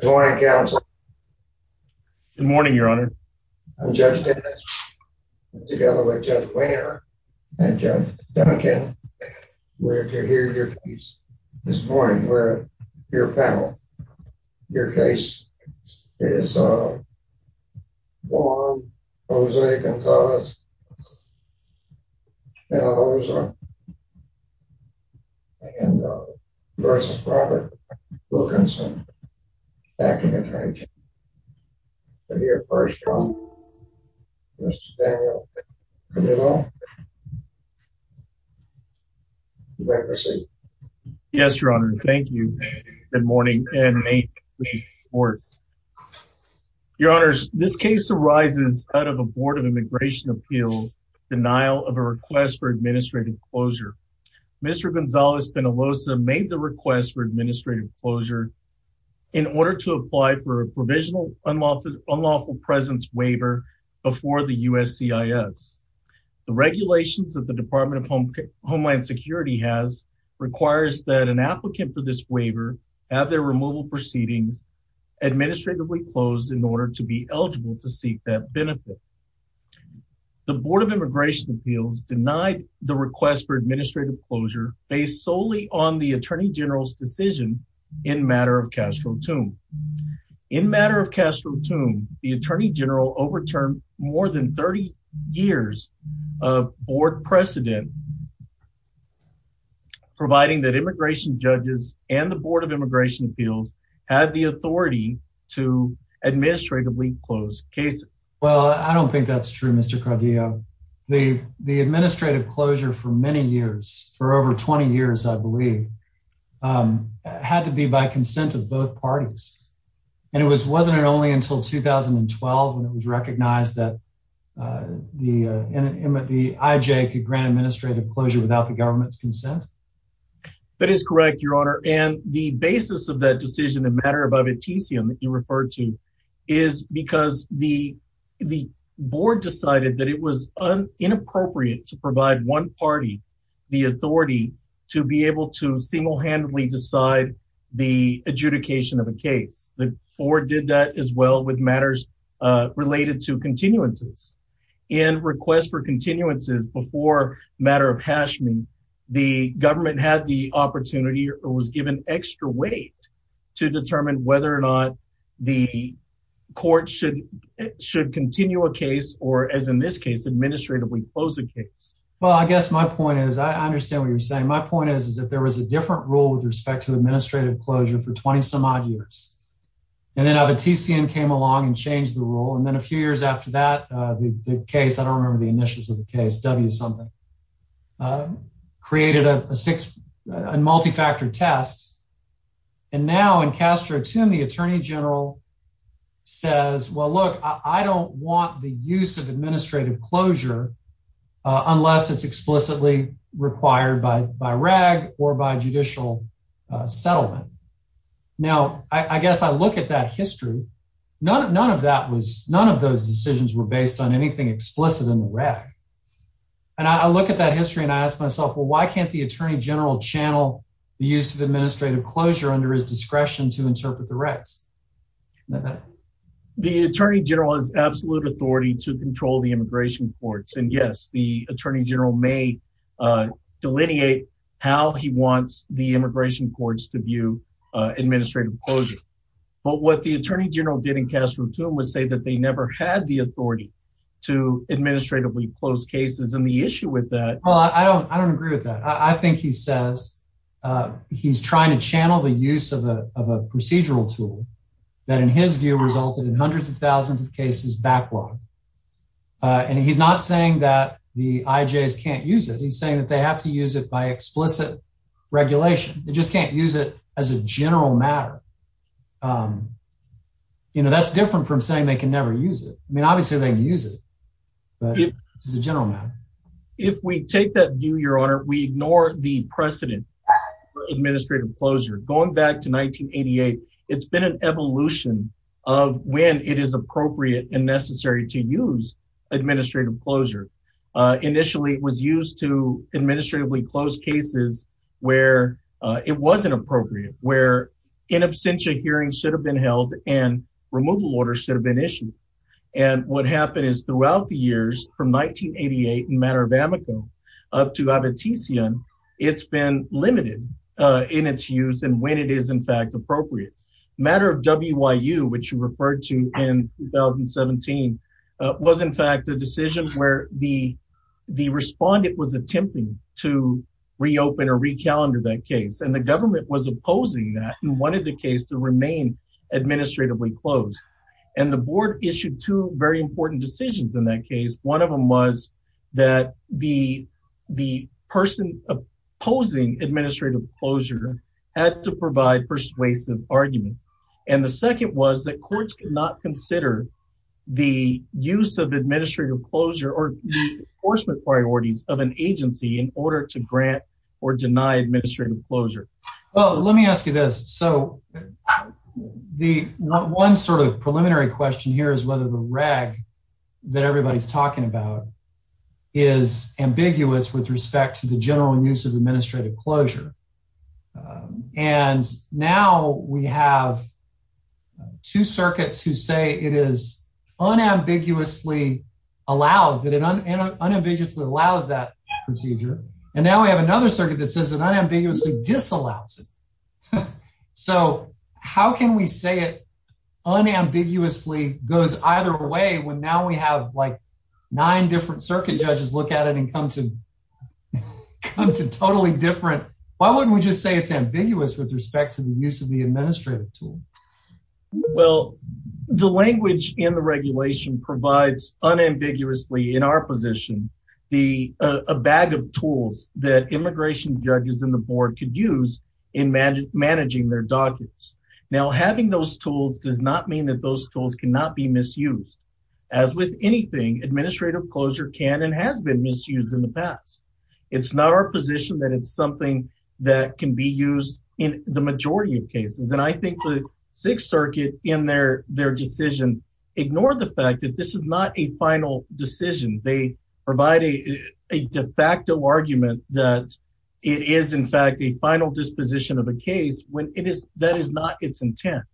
Good morning, counsel. Good morning, your honor. I'm Judge Dennis together with Judge Wehner and Judge Duncan. We're here this morning with your panel. Your case is Juan Jose Gonzalez-Penaloza v. Robert Wilkinson, Acting Attorney General. I'm here first, Mr. Daniel Penaloza. You may proceed. Yes, your honor. Thank you. Good morning and may it please the court. Your honors, this case arises out of a board of immigration appeals denial of a request for administrative closure. Mr. Gonzalez-Penaloza made the request for administrative closure in order to apply for a provisional unlawful presence waiver before the USCIS. The regulations that the Department of Homeland Security has requires that an applicant for this waiver have their removal proceedings administratively closed in order to be eligible to seek that benefit. The Board of Immigration Appeals denied the request for administrative closure based solely on the Attorney General's decision in matter of Castro-Tomb. In matter of Castro-Tomb, the Attorney General overturned more than 30 years of board precedent, providing that immigration judges and the Board of Immigration Appeals had the authority to administratively close cases. Well, I don't think that's true, Mr. Cardillo. The administrative closure for many years, for over 20 years, I believe, had to be by consent of both parties. And it wasn't only until 2012 when it was recognized that the IJ could grant administrative closure without the government's consent? That is correct, your honor. And the basis of that decision in matter of abiticium that you referred to is because the board decided that it was inappropriate to provide one party the authority to be able to single-handedly decide the adjudication of a case. The board did that as well with matters related to continuances. In request for continuances before matter of Hashmi, the government had the opportunity or was given extra weight to determine whether or not the court should continue a case or, as in this case, administratively close a case. Well, I guess my point is, I understand what you're saying. My And then abiticium came along and changed the rule. And then a few years after that, the case, I don't remember the initials of the case, W something, created a multi-factor test. And now in Castro-Toomey, the attorney general says, well, look, I don't want the use of administrative closure unless it's explicitly required by RAG or by judicial settlement. Now, I guess I look at that history. None of those decisions were based on anything explicit in the RAG. And I look at that history and I ask myself, well, why can't the attorney general channel the use of administrative closure under his discretion to interpret the RAGs? The attorney general has absolute authority to control the delineate how he wants the immigration courts to view administrative closure. But what the attorney general did in Castro-Toomey was say that they never had the authority to administratively close cases. And the issue with that. Well, I don't I don't agree with that. I think he says he's trying to channel the use of a procedural tool that, in his view, resulted in hundreds of thousands of cases backlogged. And he's not saying that the IJs can't use it. He's saying that they have to use it by explicit regulation. They just can't use it as a general matter. You know, that's different from saying they can never use it. I mean, obviously they can use it, but it's a general matter. If we take that view, your honor, we ignore the precedent for administrative closure. Going back to 1988, it's been an evolution of when it is appropriate and necessary to use administrative closure. Initially, it was used to administratively close cases where it wasn't appropriate, where in absentia hearings should have been held, and removal orders should have been issued. And what happened is throughout the years, from 1988 in Matter of Amico up to Abitizian, it's been limited in its use and when it is, in fact, appropriate. Matter of WIU, which you referred to in 2017, was, in fact, a decision where the respondent was attempting to reopen or recalendar that case, and the government was opposing that and wanted the case to remain administratively closed. And the board issued two very important decisions in that case. One of them was that the person opposing administrative closure had to provide persuasive argument. And the second was that courts could not consider the use of administrative closure or enforcement priorities of an agency in order to grant or deny administrative closure. Well, let me ask you this. So the one sort of preliminary question here is whether the RAG that everybody's talking about is ambiguous with respect to the general use of administrative closure. And now we have two circuits who say it is unambiguously allowed, that it unambiguously allows that procedure. And now we have another circuit that says it unambiguously disallows it. So how can we say it unambiguously goes either way when now we have like nine different circuit judges look at it and come to totally different? Why wouldn't we just say it's ambiguous with respect to the use of the administrative tool? Well, the language in the regulation provides unambiguously in our position a bag of tools that immigration judges in the board could use in managing their documents. Now having those tools does not mean that those tools cannot be misused. As with anything, administrative closure can and has been misused in the past. It's not our position that it's something that can be used in the majority of cases. And I think the sixth circuit in their decision ignored the fact that this is not a final decision. They provide a de facto argument that it is in fact a final disposition of a case when that is not its intent.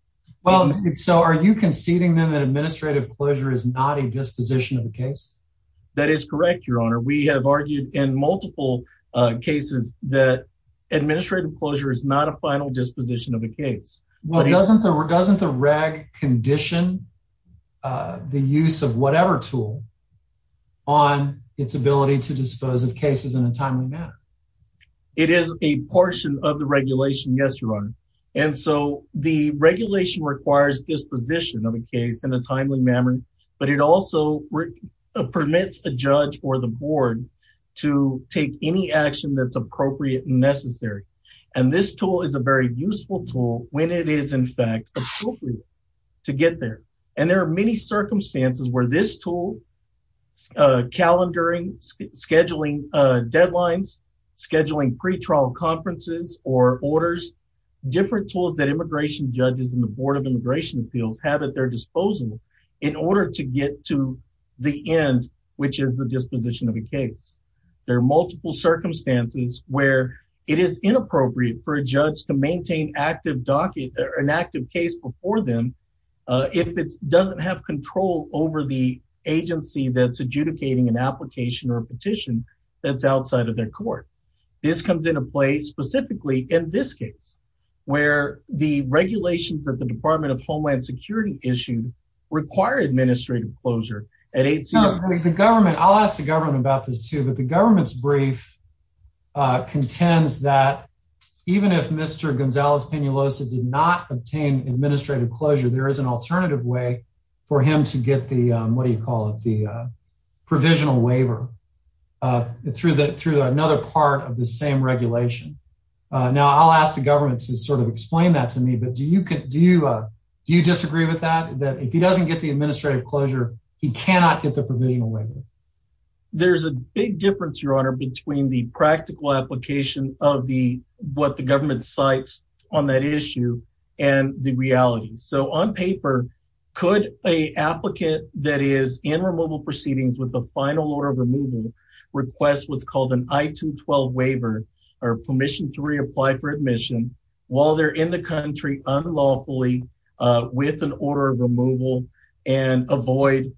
Well, so are you conceding then that administrative closure is not a disposition of the case? That is correct, your honor. We have argued in multiple cases that administrative closure is not a final disposition of a case. Well, doesn't the reg condition the use of whatever tool on its ability to dispose of cases in a timely manner? It is a portion of the regulation, yes, your honor. And so the regulation requires disposition of a case in a timely manner, but it also permits a judge or the board to take any action that's appropriate and necessary. And this tool is a very useful tool when it is in fact appropriate to get there. And there are many circumstances where this tool, calendaring, scheduling deadlines, scheduling pre-trial conferences or orders, different tools that immigration judges and the board of immigration appeals have at their disposal in order to get to the end, which is the disposition of a case. There are multiple circumstances where it is inappropriate for a judge to maintain active docket or an active case before them if it doesn't have control over the agency that's adjudicating an application or a petition that's outside of their court. This comes into play specifically in this case, where the regulations that the Department of Homeland Security issued require administrative closure. The government, I'll ask the government about this too, but the did not obtain administrative closure. There is an alternative way for him to get the, what do you call it, the provisional waiver through another part of the same regulation. Now I'll ask the government to sort of explain that to me, but do you disagree with that, that if he doesn't get the administrative closure, he cannot get the provisional waiver? There's a big difference, between the practical application of what the government cites on that issue and the reality. So on paper, could a applicant that is in removal proceedings with the final order of removal request what's called an I-212 waiver or permission to reapply for admission while they're in the country unlawfully with an order of removal and avoid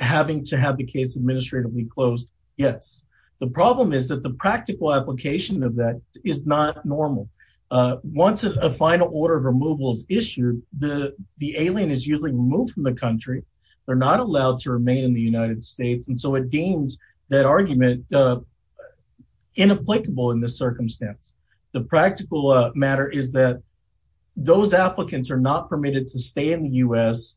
having to have the case administratively closed? Yes. The problem is that the practical application of that is not normal. Once a final order of removal is issued, the alien is usually removed from the country. They're not allowed to remain in the United States, and so it deems that argument inapplicable in this circumstance. The practical matter is that those applicants are not permitted to stay in the U.S.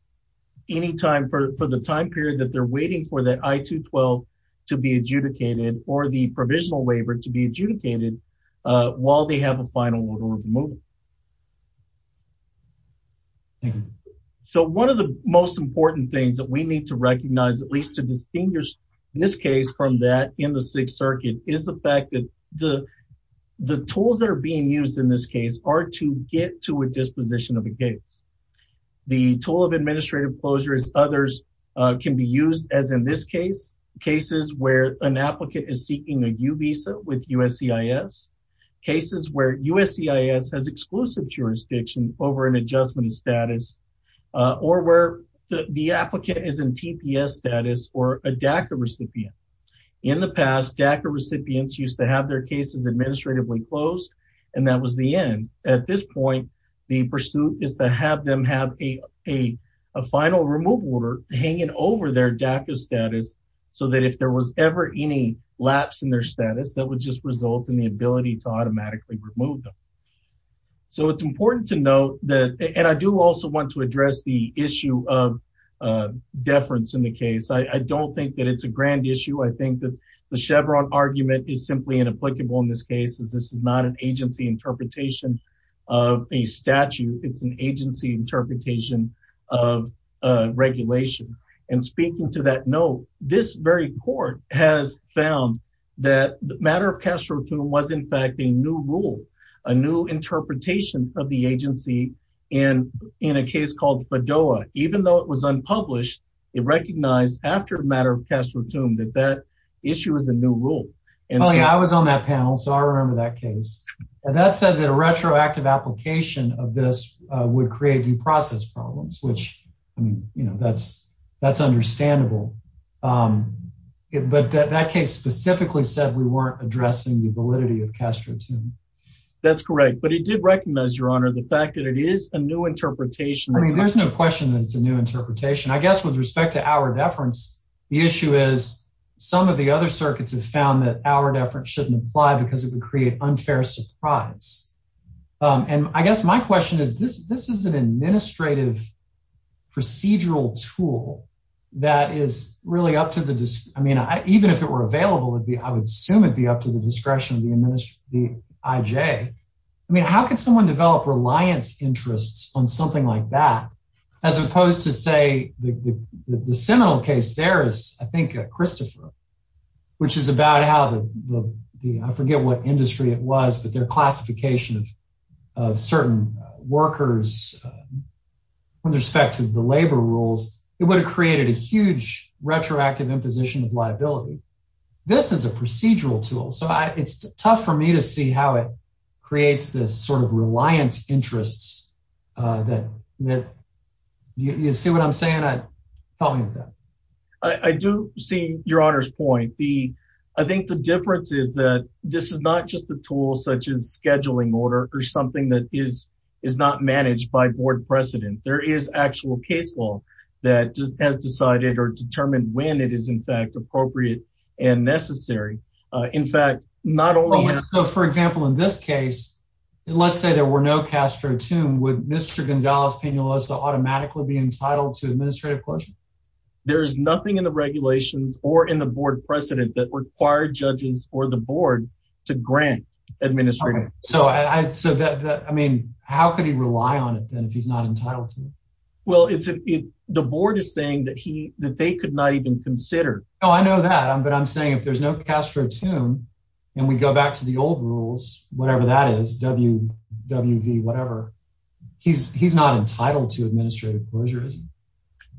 any time for the time period that they're waiting for that I-212 to be adjudicated or the provisional waiver to be adjudicated while they have a final order of removal. So one of the most important things that we need to recognize, at least to distinguish this case from that in the Sixth Circuit, is the fact that the tools that are being used in this case are to get to a disposition of a case. The tool of administrative closure is others can be used, as in this case, cases where an applicant is seeking a U visa with USCIS, cases where USCIS has exclusive jurisdiction over an adjustment of status, or where the applicant is in TPS status or a DACA recipient. In the past, DACA recipients used to have their cases administratively closed, and that was the end. At this point, the pursuit is to have them have a final removal order hanging over their DACA status, so that if there was ever any lapse in their status, that would just result in the ability to automatically remove them. So it's important to note that, and I do also want to address the issue of deference in the case. I don't think that it's a grand issue. I think that the Chevron argument is simply inapplicable in this case, as this is not an agency interpretation of a statute. It's an agency interpretation of regulation. And speaking to that note, this very court has found that the matter of Castro-Tum was, in fact, a new rule, a new interpretation of the agency. And in a case called Fedoa, even though it was unpublished, it recognized after the matter of Castro-Tum that the issue was a new rule. I was on that panel, so I remember that case. And that said that a retroactive application of this would create due process problems, which, I mean, that's understandable. But that case specifically said we weren't addressing the validity of Castro-Tum. That's correct. But it did recognize, Your Honor, the fact that it is a new interpretation. I mean, there's no question that it's a new interpretation. I guess with respect to our deference, the issue is some of the other circuits have found that our deference shouldn't apply because it would create unfair surprise. And I guess my question is, this is an administrative procedural tool that is really up to the, I mean, even if it were available, I would assume it'd be up to the discretion of the IJ. I mean, how could someone develop reliance interests on something like that, as opposed to, say, the seminal case there is, I think, Christopher, which is about how the, I forget what industry it was, but their classification of certain workers with respect to the labor rules, it would have created a huge retroactive imposition of liability. This is a procedural tool. So it's tough for me to see how creates this sort of reliance interests. Do you see what I'm saying? Help me with that. I do see Your Honor's point. I think the difference is that this is not just a tool such as scheduling order or something that is not managed by board precedent. There is actual case law that has decided or determined when it is, in fact, appropriate and necessary. In fact, not only so, for example, in this case, let's say there were no Castro tomb, would Mr. Gonzalez-Piñuelos automatically be entitled to administrative closure? There's nothing in the regulations or in the board precedent that required judges or the board to grant administrative. So I mean, how could he rely on it then if he's not entitled to it? Well, it's the board is saying that he that they could not even consider. Oh, I know that. But I'm saying if there's no Castro tomb and we go back to the old rules, whatever that is, WWV, whatever, he's not entitled to administrative closure, is he?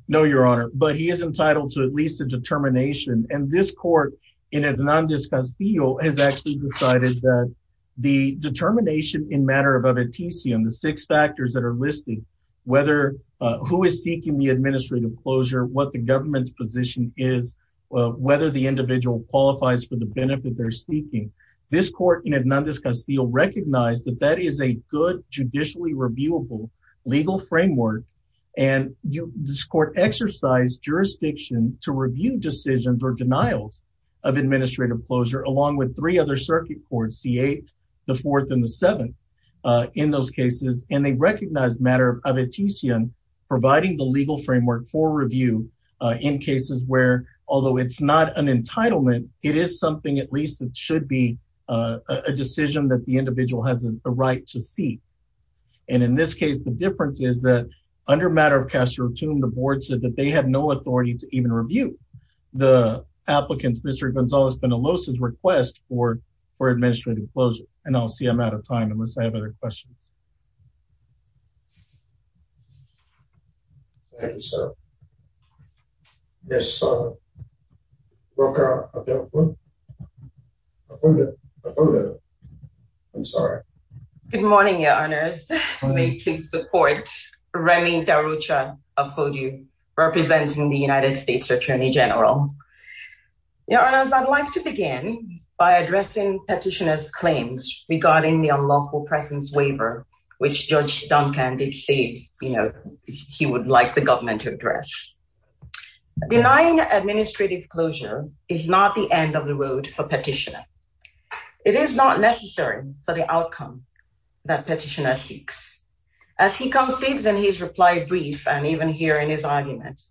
No, Your Honor, but he is entitled to at least a determination. And this court in Hernandez-Constillo has actually decided that the determination in matter of a veticium, the six factors that are listed, whether who is seeking the administrative closure, what the government's position is, whether the individual qualifies for the benefit they're seeking. This court in Hernandez-Constillo recognized that that is a good, judicially reviewable legal framework. And this court exercised jurisdiction to review decisions or denials of administrative closure, along with three other circuit courts, the eighth, the fourth and the seventh in those cases. And they recognized matter of a veticium providing the legal framework for review in cases where, although it's not an entitlement, it is something at least that should be a decision that the individual has a right to see. And in this case, the difference is that under matter of Castro tomb, the board said that they have no authority to even review the applicants. Mr. Gonzalez Benalosa's request for administrative closure. And I'll see I'm out of time unless I have other questions. Good morning, Your Honors. Let me introduce the court, Remy Darucha Afogio, representing the United States Attorney General. Your Honors, I'd like to begin by addressing petitioner's claims regarding the unlawful presence waiver, which Judge Duncan did say, you know, he would like the government to address. Denying administrative closure is not the end of the road for petitioner. It is not necessary for the outcome that petitioner seeks. As he concedes in his reply brief, and even here in his argument,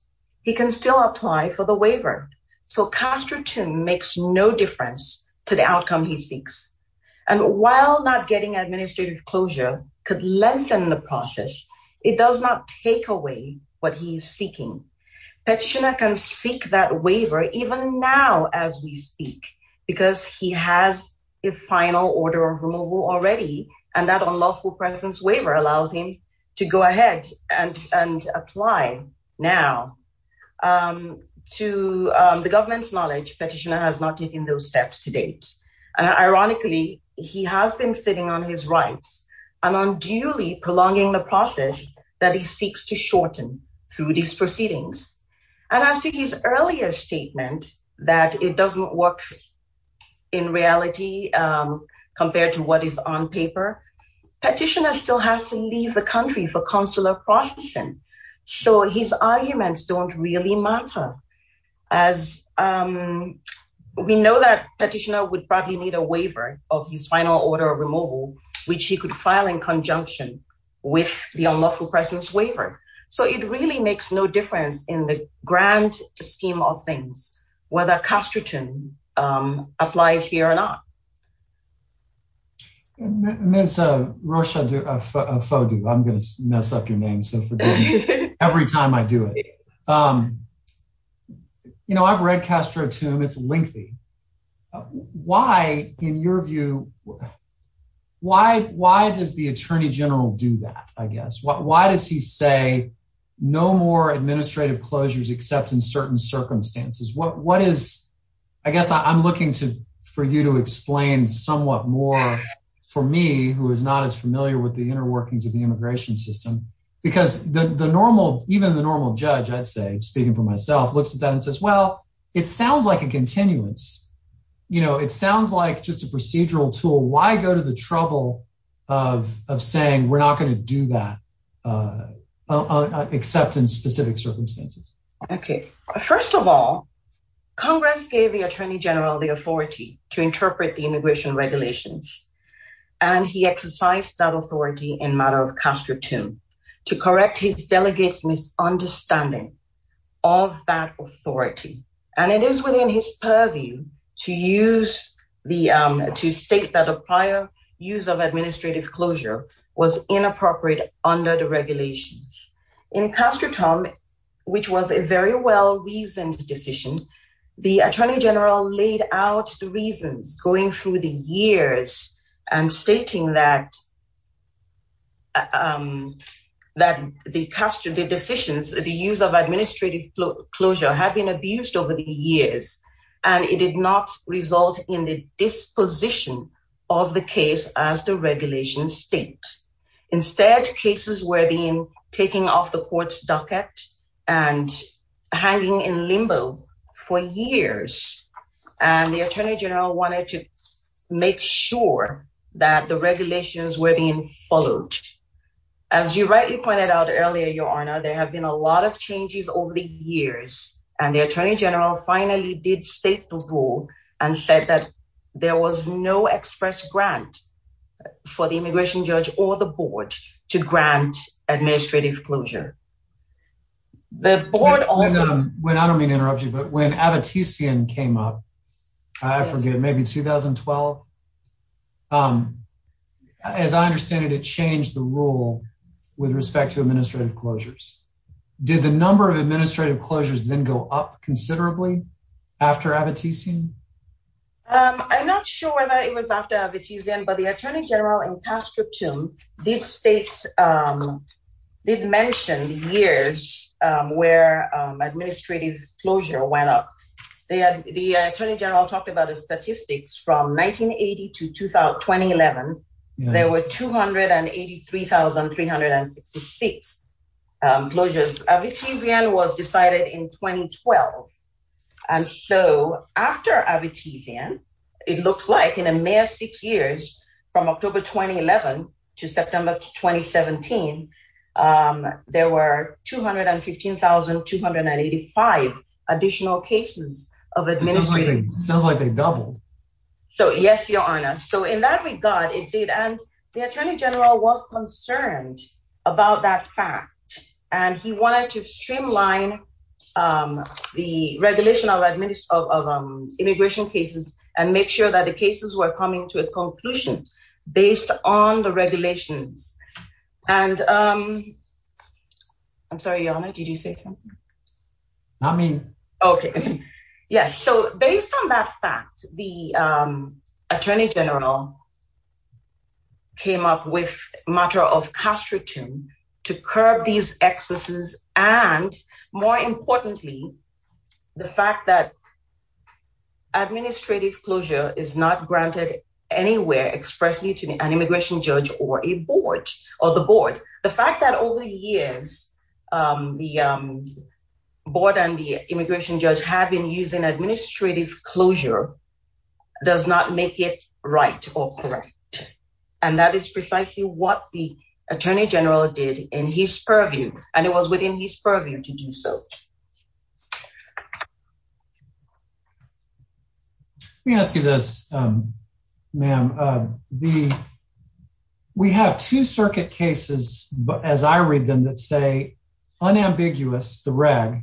he can still apply for the waiver. So Castro tomb makes no difference to the outcome he seeks. And while not getting administrative closure could lengthen the process, it does not take away what he's seeking. Petitioner can seek that waiver even now as we speak, because he has a final order of removal already. And that unlawful presence waiver allows him to go ahead and apply now. To the government's knowledge, petitioner has not taken those steps to date. And ironically, he has been sitting on his rights and unduly prolonging the process that he seeks to shorten through these proceedings. And as to his earlier statement that it doesn't work in reality, compared to what is on paper, petitioner still has to leave the country for months. As we know that petitioner would probably need a waiver of his final order of removal, which he could file in conjunction with the unlawful presence waiver. So it really makes no difference in the grand scheme of things, whether casterton applies here or not. Miss Roshadu, I'm going to mess up your name. So every time I do it, you know, I've read Castro tomb. It's lengthy. Why, in your view, why does the attorney general do that? I guess. Why does he say no more administrative closures except in certain circumstances? What is I guess I'm looking to for you to explain somewhat more for me, who is not as familiar with the inner workings of the immigration system, because the normal, even the normal judge, I'd say, speaking for myself, looks at that and says, well, it sounds like a continuance. You know, it sounds like just a procedural tool. Why go to the trouble of saying we're not going to do that except in specific circumstances? Okay. First of all, Congress gave the attorney general the authority to interpret the immigration regulations. And he exercised that authority in matter of Castro tomb to correct his delegates misunderstanding of that authority. And it is within his purview to use the, to state that a prior use of administrative closure was inappropriate under the regulations in Castro Tom, which was a very well reasoned decision. The attorney general laid out the reasons going through the years and stating that, that the Castro, the decisions, the use of administrative closure had been abused over the years, and it did not result in the disposition of the case as the regulation states. Instead, cases were being taken off the court's docket and hanging in limbo for years. And the attorney general wanted to make sure that the regulations were being followed. As you rightly pointed out earlier, your honor, there have been a lot of changes over the years. And the attorney general finally did state the rule and said that there was no express grant for the immigration judge or the board to grant administrative closure. The board also went out. I mean, interrupt you. But when I have a TCN came up, I forget, maybe 2012. Um, as I understand it, it changed the rule with respect to administrative closures. Did the number of administrative closures then go up considerably after advertising? I'm not sure whether it was after the TZM, but the attorney general and pastor to deep states, um, they'd mentioned years, um, where, um, administrative closure went up. They had the attorney general talked about a statistics from 1980 to 2000, 2011, there were 283,366 closures. I've achieved the end was decided in 2012. And so after I've achieved him, it looks like in a mere six years from October, 2011 to September, 2017, um, there were 215,285 additional cases of administration. It sounds like they doubled. So yes, your honor. So in that regard, it did. And the attorney general was concerned about that fact. And he wanted to a conclusion based on the regulations. And, um, I'm sorry, your honor, did you say something? I mean, okay. Yes. So based on that fact, the, um, attorney general came up with matter of Castro to, to curb these excesses. And more importantly, the fact that administrative closure is not granted anywhere expressly to an immigration judge or a board or the board. The fact that over the years, um, the, um, board and the immigration judge have been using administrative closure does not make it right or correct. And that is precisely what the attorney general did in his purview. And it was within his purview to do so. Let me ask you this, um, ma'am, uh, the, we have two circuit cases as I read them that say unambiguous, the reg,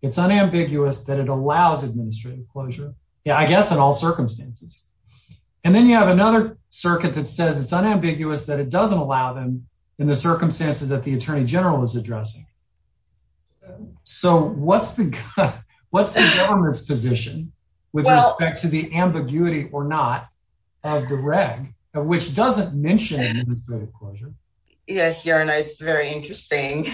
it's unambiguous that it allows administrative closure. Yeah, I guess in all circumstances. And then you have another circuit that says it's unambiguous that it doesn't allow them in the circumstances that the attorney general is addressing. So what's the, what's the government's position with respect to the ambiguity or not of the reg, which doesn't mention administrative closure. Yes. You're a nice, very interesting.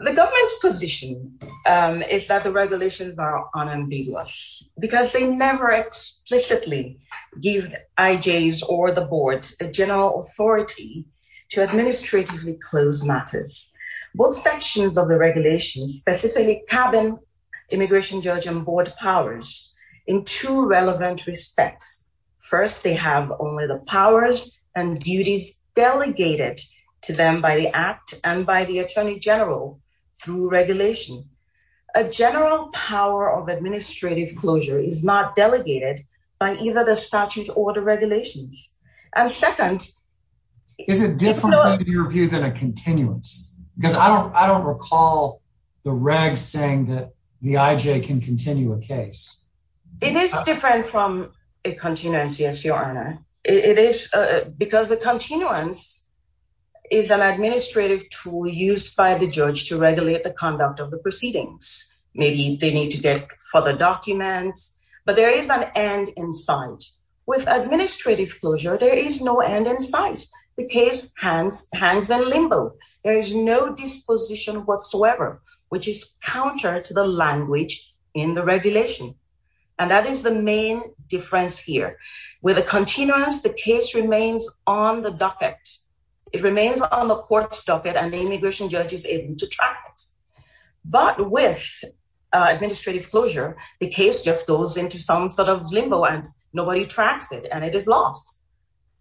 The government's position, um, is that the regulations are unambiguous because they never explicitly give IJS or the board a general authority to administratively close matters. Both sections of the regulations, specifically cabin immigration judge and board powers in two relevant respects. First, they have only the powers and duties delegated to them by the act and by the attorney general through regulation, a general power of administrative closure is not delegated by either the statute order regulations. And second, is it different in your view than a continuance? Because I don't, I don't recall the reg saying that the IJ can continue a case. It is different from a continuance. Yes, your honor. It is because the continuance is an administrative tool used by the judge to regulate the conduct of the proceedings. Maybe they need to get further documents, but there is an end in sight with administrative closure. There is no end in sight. The case hangs in limbo. There is no disposition whatsoever, which is counter to the language in the regulation. And that is the main difference here. With a continuance, the case remains on the docket. It remains on the court's docket and the immigration judge is able to track it. But with administrative closure, the case just goes into some sort of limbo and nobody tracks it and it is lost.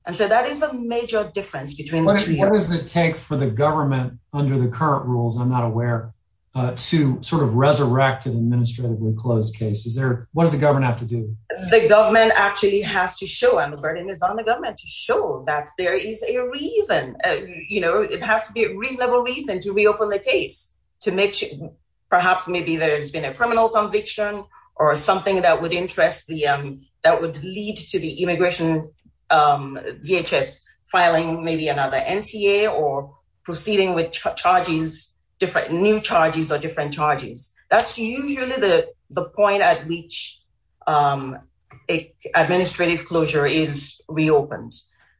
And so that is a major difference between the two. What does it take for the government under the current rules, I'm not aware, to sort of resurrect an administratively closed case? Is there, what does the government have to do? The government actually has to show, and the burden is on the government, to show that there is a reason, you know, it has to be a reasonable reason to reopen the case, to make, perhaps maybe there has been a criminal conviction or something that would interest the, that would lead to the immigration DHS filing maybe another NTA or proceeding with charges, different new charges or different charges. That's usually the point at which administrative closure is reopened.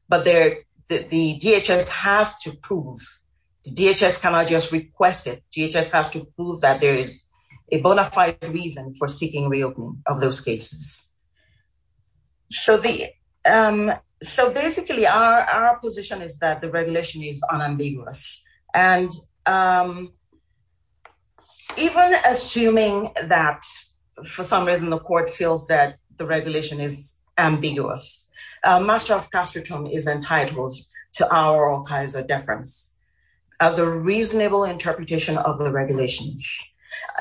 But the DHS has to prove, the DHS cannot just request it, DHS has to prove that there is a bona fide reason for seeking reopening of those cases. So basically our position is that the regulation is unambiguous. And even assuming that for some reason the court feels that the regulation is ambiguous, Master of Castreton is entitled to our all kinds of deference as a reasonable interpretation of the regulations.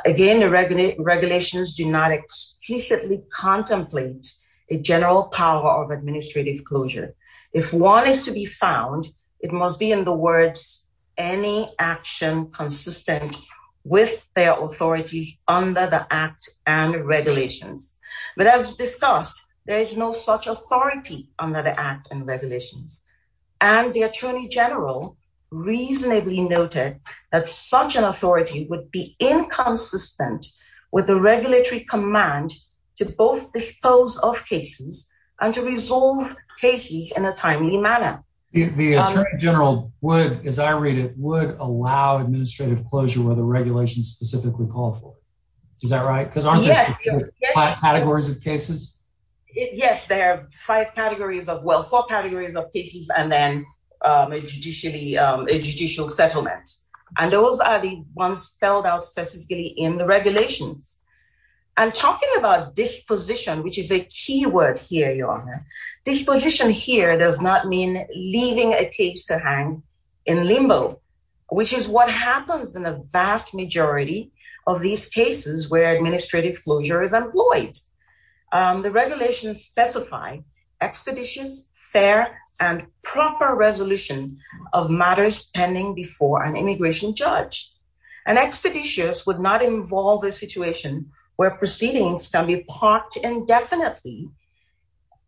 Again, the regulations do not explicitly contemplate a general power of administrative closure. If one is to be found, it must be in the words, any action consistent with their authorities under the Act and regulations. But as discussed, there is no such authority under the Act and regulations. And the Attorney General reasonably noted that such an authority would be inconsistent with the regulatory command to both dispose of cases and to resolve cases in a timely manner. The Attorney General would, as I read it, would allow administrative closure where the regulations specifically call for. Is that right? Because aren't there five categories of cases? Yes, there are five categories of, well, four categories of cases and then a judicial settlement. And those are the ones spelled out specifically in the regulations. I'm talking about disposition, which is a key word here, Your Honor. Disposition here does not mean leaving a case to hang in limbo, which is what happens in a vast majority of these cases where administrative closure is employed. The regulations specify expeditious, fair, and proper resolution of matters pending before an immigration judge. An expeditious would not involve a situation where proceedings can be parked indefinitely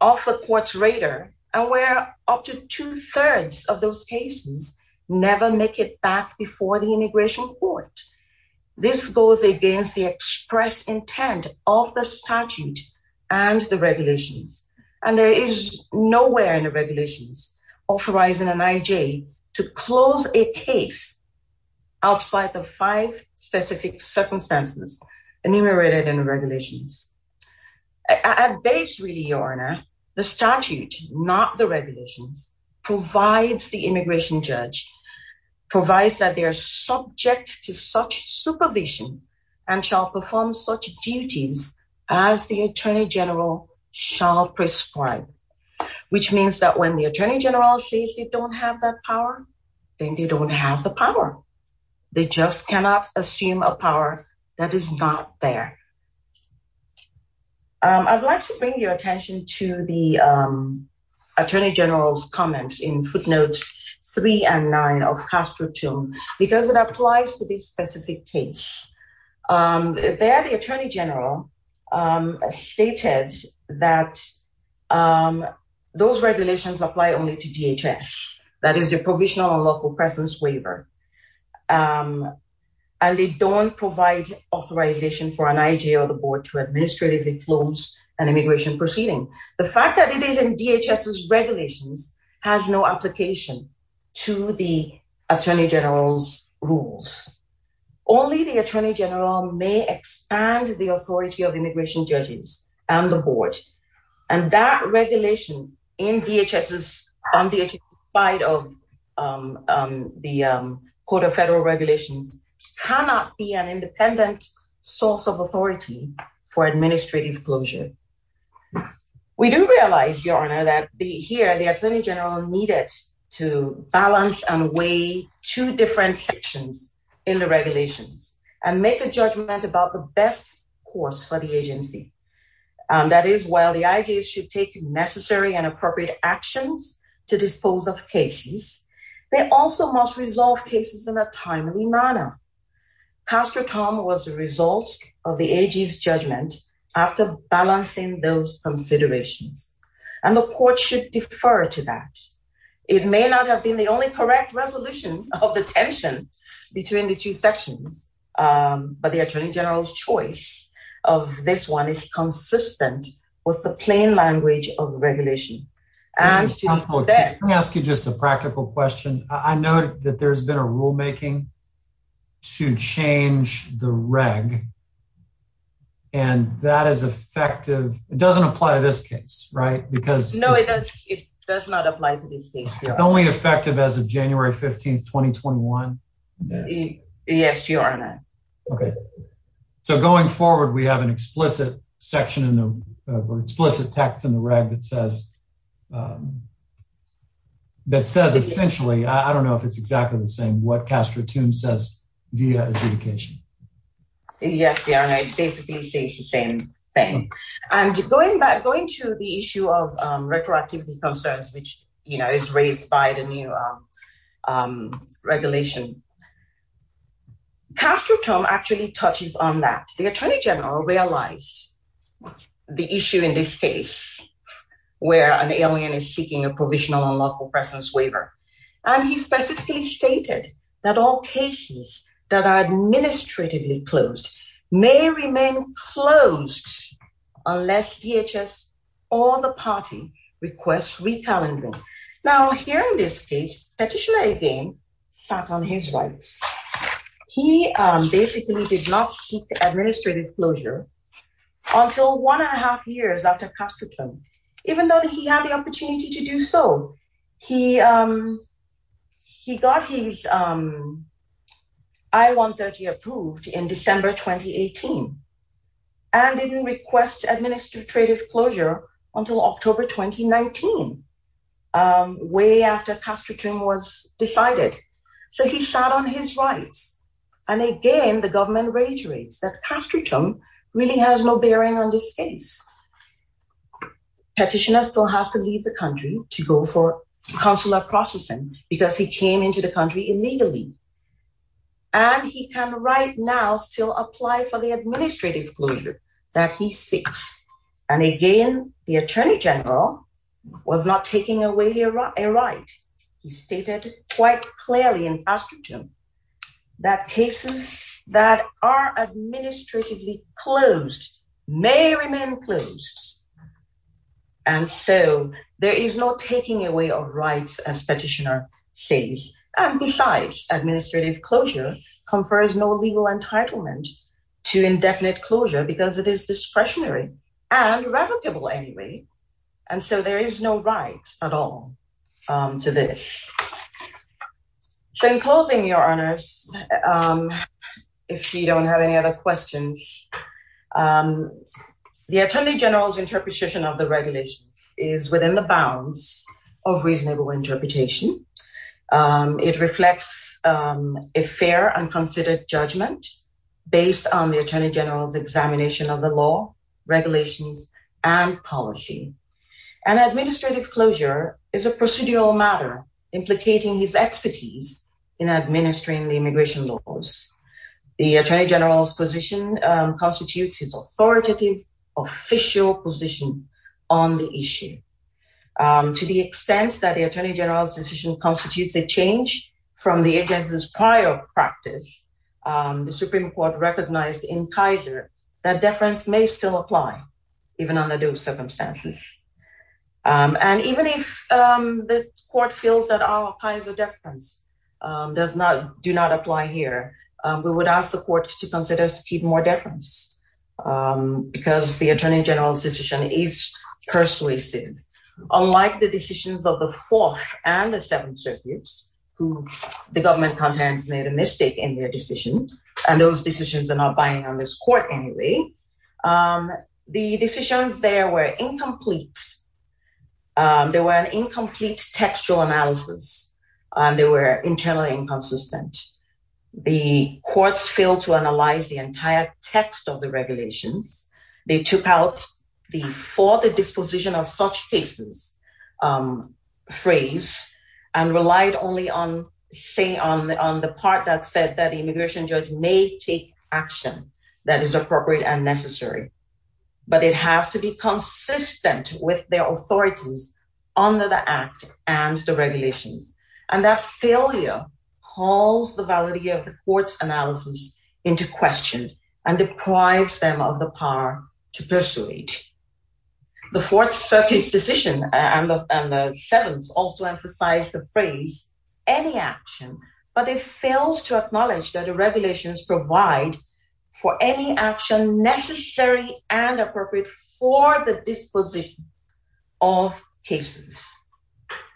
off the court's radar and where up to two-thirds of those cases never make it back before the immigration court. This goes against the express intent of the statute and the regulations. And there is nowhere in the regulations authorizing an IJ to close a case outside the five specific circumstances enumerated in the regulations. At base, really, Your Honor, the statute, not the regulations, provides the immigration judge, provides that they are subject to such supervision and shall perform such duties as the attorney general shall prescribe, which means that when the attorney general says they don't have that power, then they don't have the power. They just cannot assume a power that is not there. I'd like to bring your attention to the attorney general's comments in footnotes three and nine of Castro 2 because it applies to this specific case. There, the attorney general stated that those regulations apply only to DHS. That is the Provisional Unlawful Presence Waiver. And they don't provide authorization for an IJ or the board to administratively close an immigration proceeding. The fact that it is in DHS's may expand the authority of immigration judges and the board. And that regulation in DHS's on DHS's side of the Code of Federal Regulations cannot be an independent source of authority for administrative closure. We do realize, Your Honor, that here the attorney general needed to balance and weigh two different sections in the regulations and make a judgment about the best course for the agency. That is, while the IJs should take necessary and appropriate actions to dispose of cases, they also must resolve cases in a timely manner. Castro Tom was the result of the IJ's judgment after balancing those considerations. And the it may not have been the only correct resolution of the tension between the two sections, but the attorney general's choice of this one is consistent with the plain language of regulation. Let me ask you just a practical question. I know that there's been a rulemaking to change the reg and that is effective. It doesn't apply to this case, right? No, it does not apply to this case. It's only effective as of January 15th, 2021? Yes, Your Honor. Okay. So going forward, we have an explicit section in the explicit text in the reg that says that says essentially, I don't know if it's exactly the same, what Castro Tom says via adjudication. Yes, Your Honor, it basically says the same thing. And going back, going to the issue of retroactivity concerns, which is raised by the new regulation, Castro Tom actually touches on that. The attorney general realized the issue in this case, where an alien is seeking a provisional unlawful presence waiver. And he specifically stated that all cases that are administratively closed may remain closed unless DHS or the party requests re-calendaring. Now here in this case, Petitioner again, sat on his rights. He basically did not seek administrative closure until one and a half years after Castro Tom, even though he had the I-130 approved in December, 2018, and didn't request administrative closure until October, 2019, way after Castro Tom was decided. So he sat on his rights. And again, the government reiterates that Castro Tom really has no bearing on this case. Petitioner still has to leave the and he can right now still apply for the administrative closure that he seeks. And again, the attorney general was not taking away a right. He stated quite clearly in Castro Tom that cases that are administratively closed may remain closed. And so there is no taking away of rights as Petitioner says. And besides, administrative closure confers no legal entitlement to indefinite closure because it is discretionary and revocable anyway. And so there is no right at all to this. So in closing, your honors, if you don't have any other questions, the attorney general's interpretation of the interpretation, it reflects a fair and considered judgment based on the attorney general's examination of the law, regulations, and policy. And administrative closure is a procedural matter implicating his expertise in administering the immigration laws. The attorney general's position constitutes his authoritative, official position on the issue. To the extent that the attorney general's decision constitutes a change from the agency's prior practice, the Supreme Court recognized in Kaiser that deference may still apply even under those circumstances. And even if the court feels that our Kaiser deference does not – do not apply here, we would ask the court to consider skewed more deference because the attorney general's decision is persuasive. Unlike the decisions of the Fourth and the Seventh Circuits, who the government contents made a mistake in their decision, and those decisions are not binding on this court anyway, the decisions there were incomplete. They were an incomplete textual analysis, and they were internally inconsistent. The courts failed to analyze the entire text of the regulations. They took out the for the disposition of such cases phrase and relied only on the part that said that the immigration judge may take action that is appropriate and necessary. But it has to be calls the validity of the court's analysis into question and deprives them of the power to persuade. The Fourth Circuit's decision and the Seventh also emphasize the phrase any action, but it fails to acknowledge that the regulations provide for any action necessary and appropriate for the disposition of cases.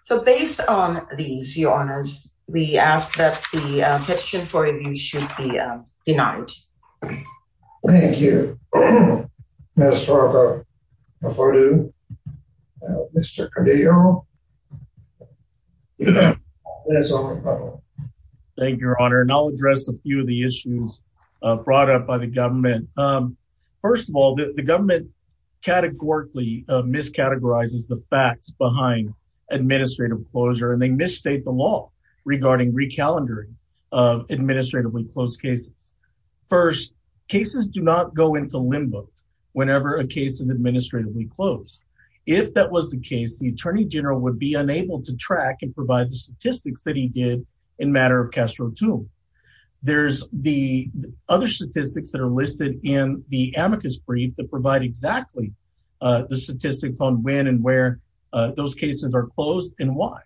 So based on these, your honors, we ask that the petition for review should be denied. Thank you. Thank you, your honor, and I'll address a few of the issues brought up by the government. First of all, the government categorically miscategorizes the facts behind administrative closure, and they misstate the law regarding recalendering of administratively closed cases. First, cases do not go into limbo whenever a case is administratively closed. If that was the case, the attorney general would be unable to track and provide the statistics that he did in matter of two. There's the other statistics that are listed in the amicus brief that provide exactly the statistics on when and where those cases are closed and why.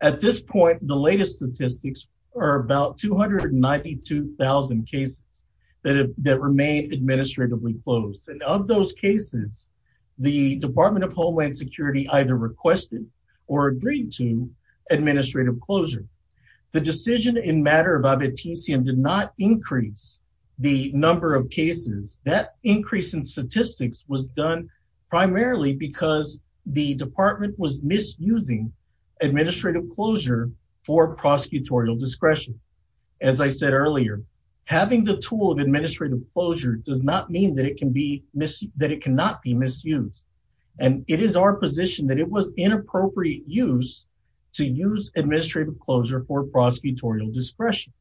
At this point, the latest statistics are about 292,000 cases that remain administratively closed. And of those cases, the Department of Homeland Security either requested or agreed to administrative closure. The decision in matter of abiticium did not increase the number of cases. That increase in statistics was done primarily because the department was misusing administrative closure for prosecutorial discretion. As I said earlier, having the tool of administrative closure does not mean that it cannot be misused. And it is our position that it was inappropriate use to use administrative closure for prosecutorial discretion.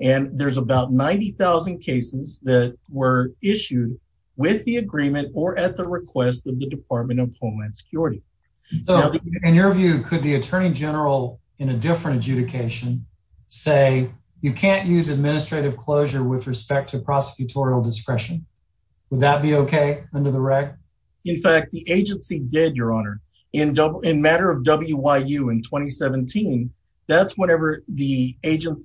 And there's about 90,000 cases that were issued with the agreement or at the request of the Department of Homeland Security. In your view, could the attorney general in a different adjudication say you can't use administrative closure with respect to prosecutorial discretion? Would that be okay under the rec? In fact, the agency did, your honor. In matter of WIU in 2017, that's whenever the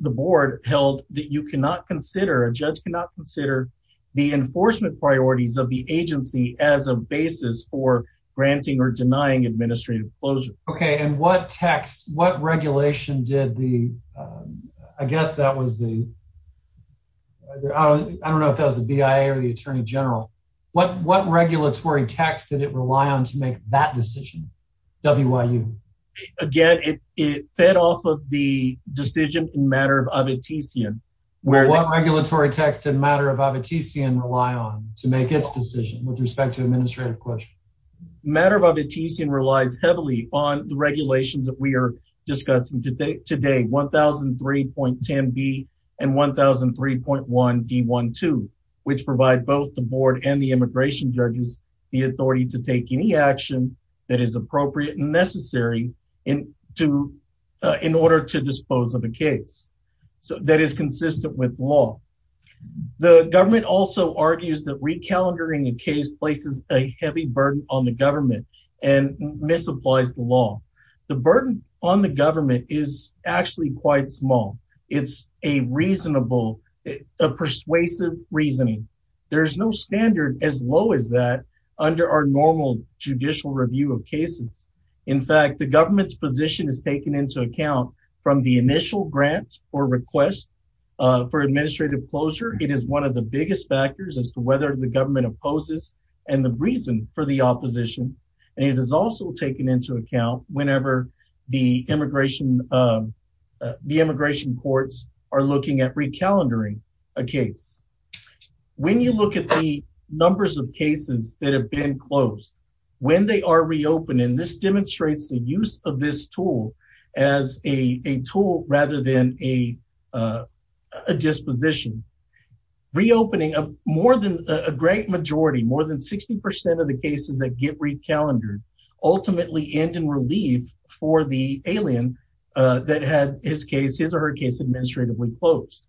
board held that you cannot consider, a judge cannot consider the enforcement priorities of the agency as a basis for granting or denying administrative closure. Okay, and what text, what regulation did the, I guess that was the, I don't know if that was the BIA or the attorney general. What, what regulatory text did it rely on to make that decision? WIU? Again, it, it fed off of the decision in matter of Avitesian. What regulatory text in matter of Avitesian rely on to make its decision with respect to administrative closure? Matter of Avitesian relies heavily on the regulations that we are discussing today. Today, 1003.10B and 1003.1D12, which provide both the board and the immigration judges the authority to take any action that is appropriate and necessary in to, in order to dispose of a case. So that is consistent with law. The government also argues that recalendering a case places a heavy burden on the government and misapplies the law. The burden on the government is actually quite small. It's a reasonable, a persuasive reasoning. There's no standard as low as that under our normal judicial review of cases. In fact, the government's position is taken into account from the initial grant or request for administrative closure. It is one of the biggest factors as to whether the government opposes and the reason for the opposition. And it is also taken into account whenever the immigration, the immigration courts are looking at recalendering a case. When you look at the numbers of cases that have been closed, when they are reopening, this demonstrates the use of this tool as a tool rather than a disposition. Reopening of more than a great majority, more than 60% of the cases that get recalendered ultimately end in relief for the alien that had his case, his or her case administratively closed.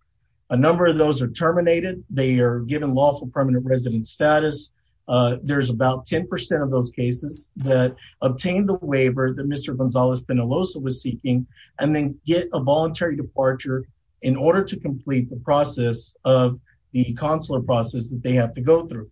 A number of those are terminated. They are given lawful permanent resident status. There's about 10% of those cases that obtain the waiver that Mr. Gonzalez-Penalosa was seeking and then get a voluntary departure in order to complete the process of the consular process that they have to go through.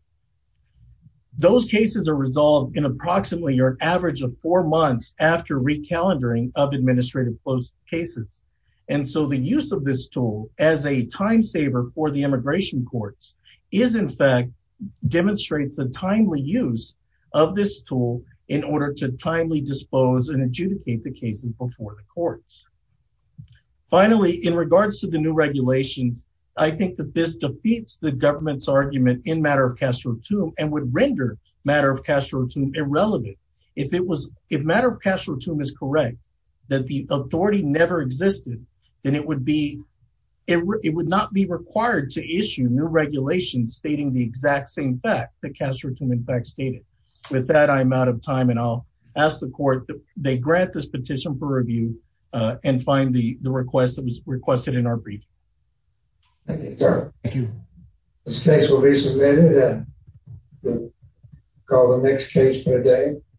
Those cases are resolved in approximately your average of four months after recalendering of administrative closed cases. And so the use of this tool as a time saver for the immigration courts is in fact demonstrates a timely use of this tool in order to timely dispose and adjudicate the cases before the courts. Finally, in regards to the new regulations, I think that this defeats the government's argument in matter of Castro-Tum and would render matter of Castro-Tum irrelevant. If matter of Castro-Tum is correct, that the authority never existed, then it would not be required to issue new regulations stating the exact same fact that Castro-Tum in fact stated. With that, I'm out of time and I'll ask the court, they grant this petition for review and find the request that was requested in our brief. Thank you, sir. Thank you. This case will be submitted and called the next case for the day.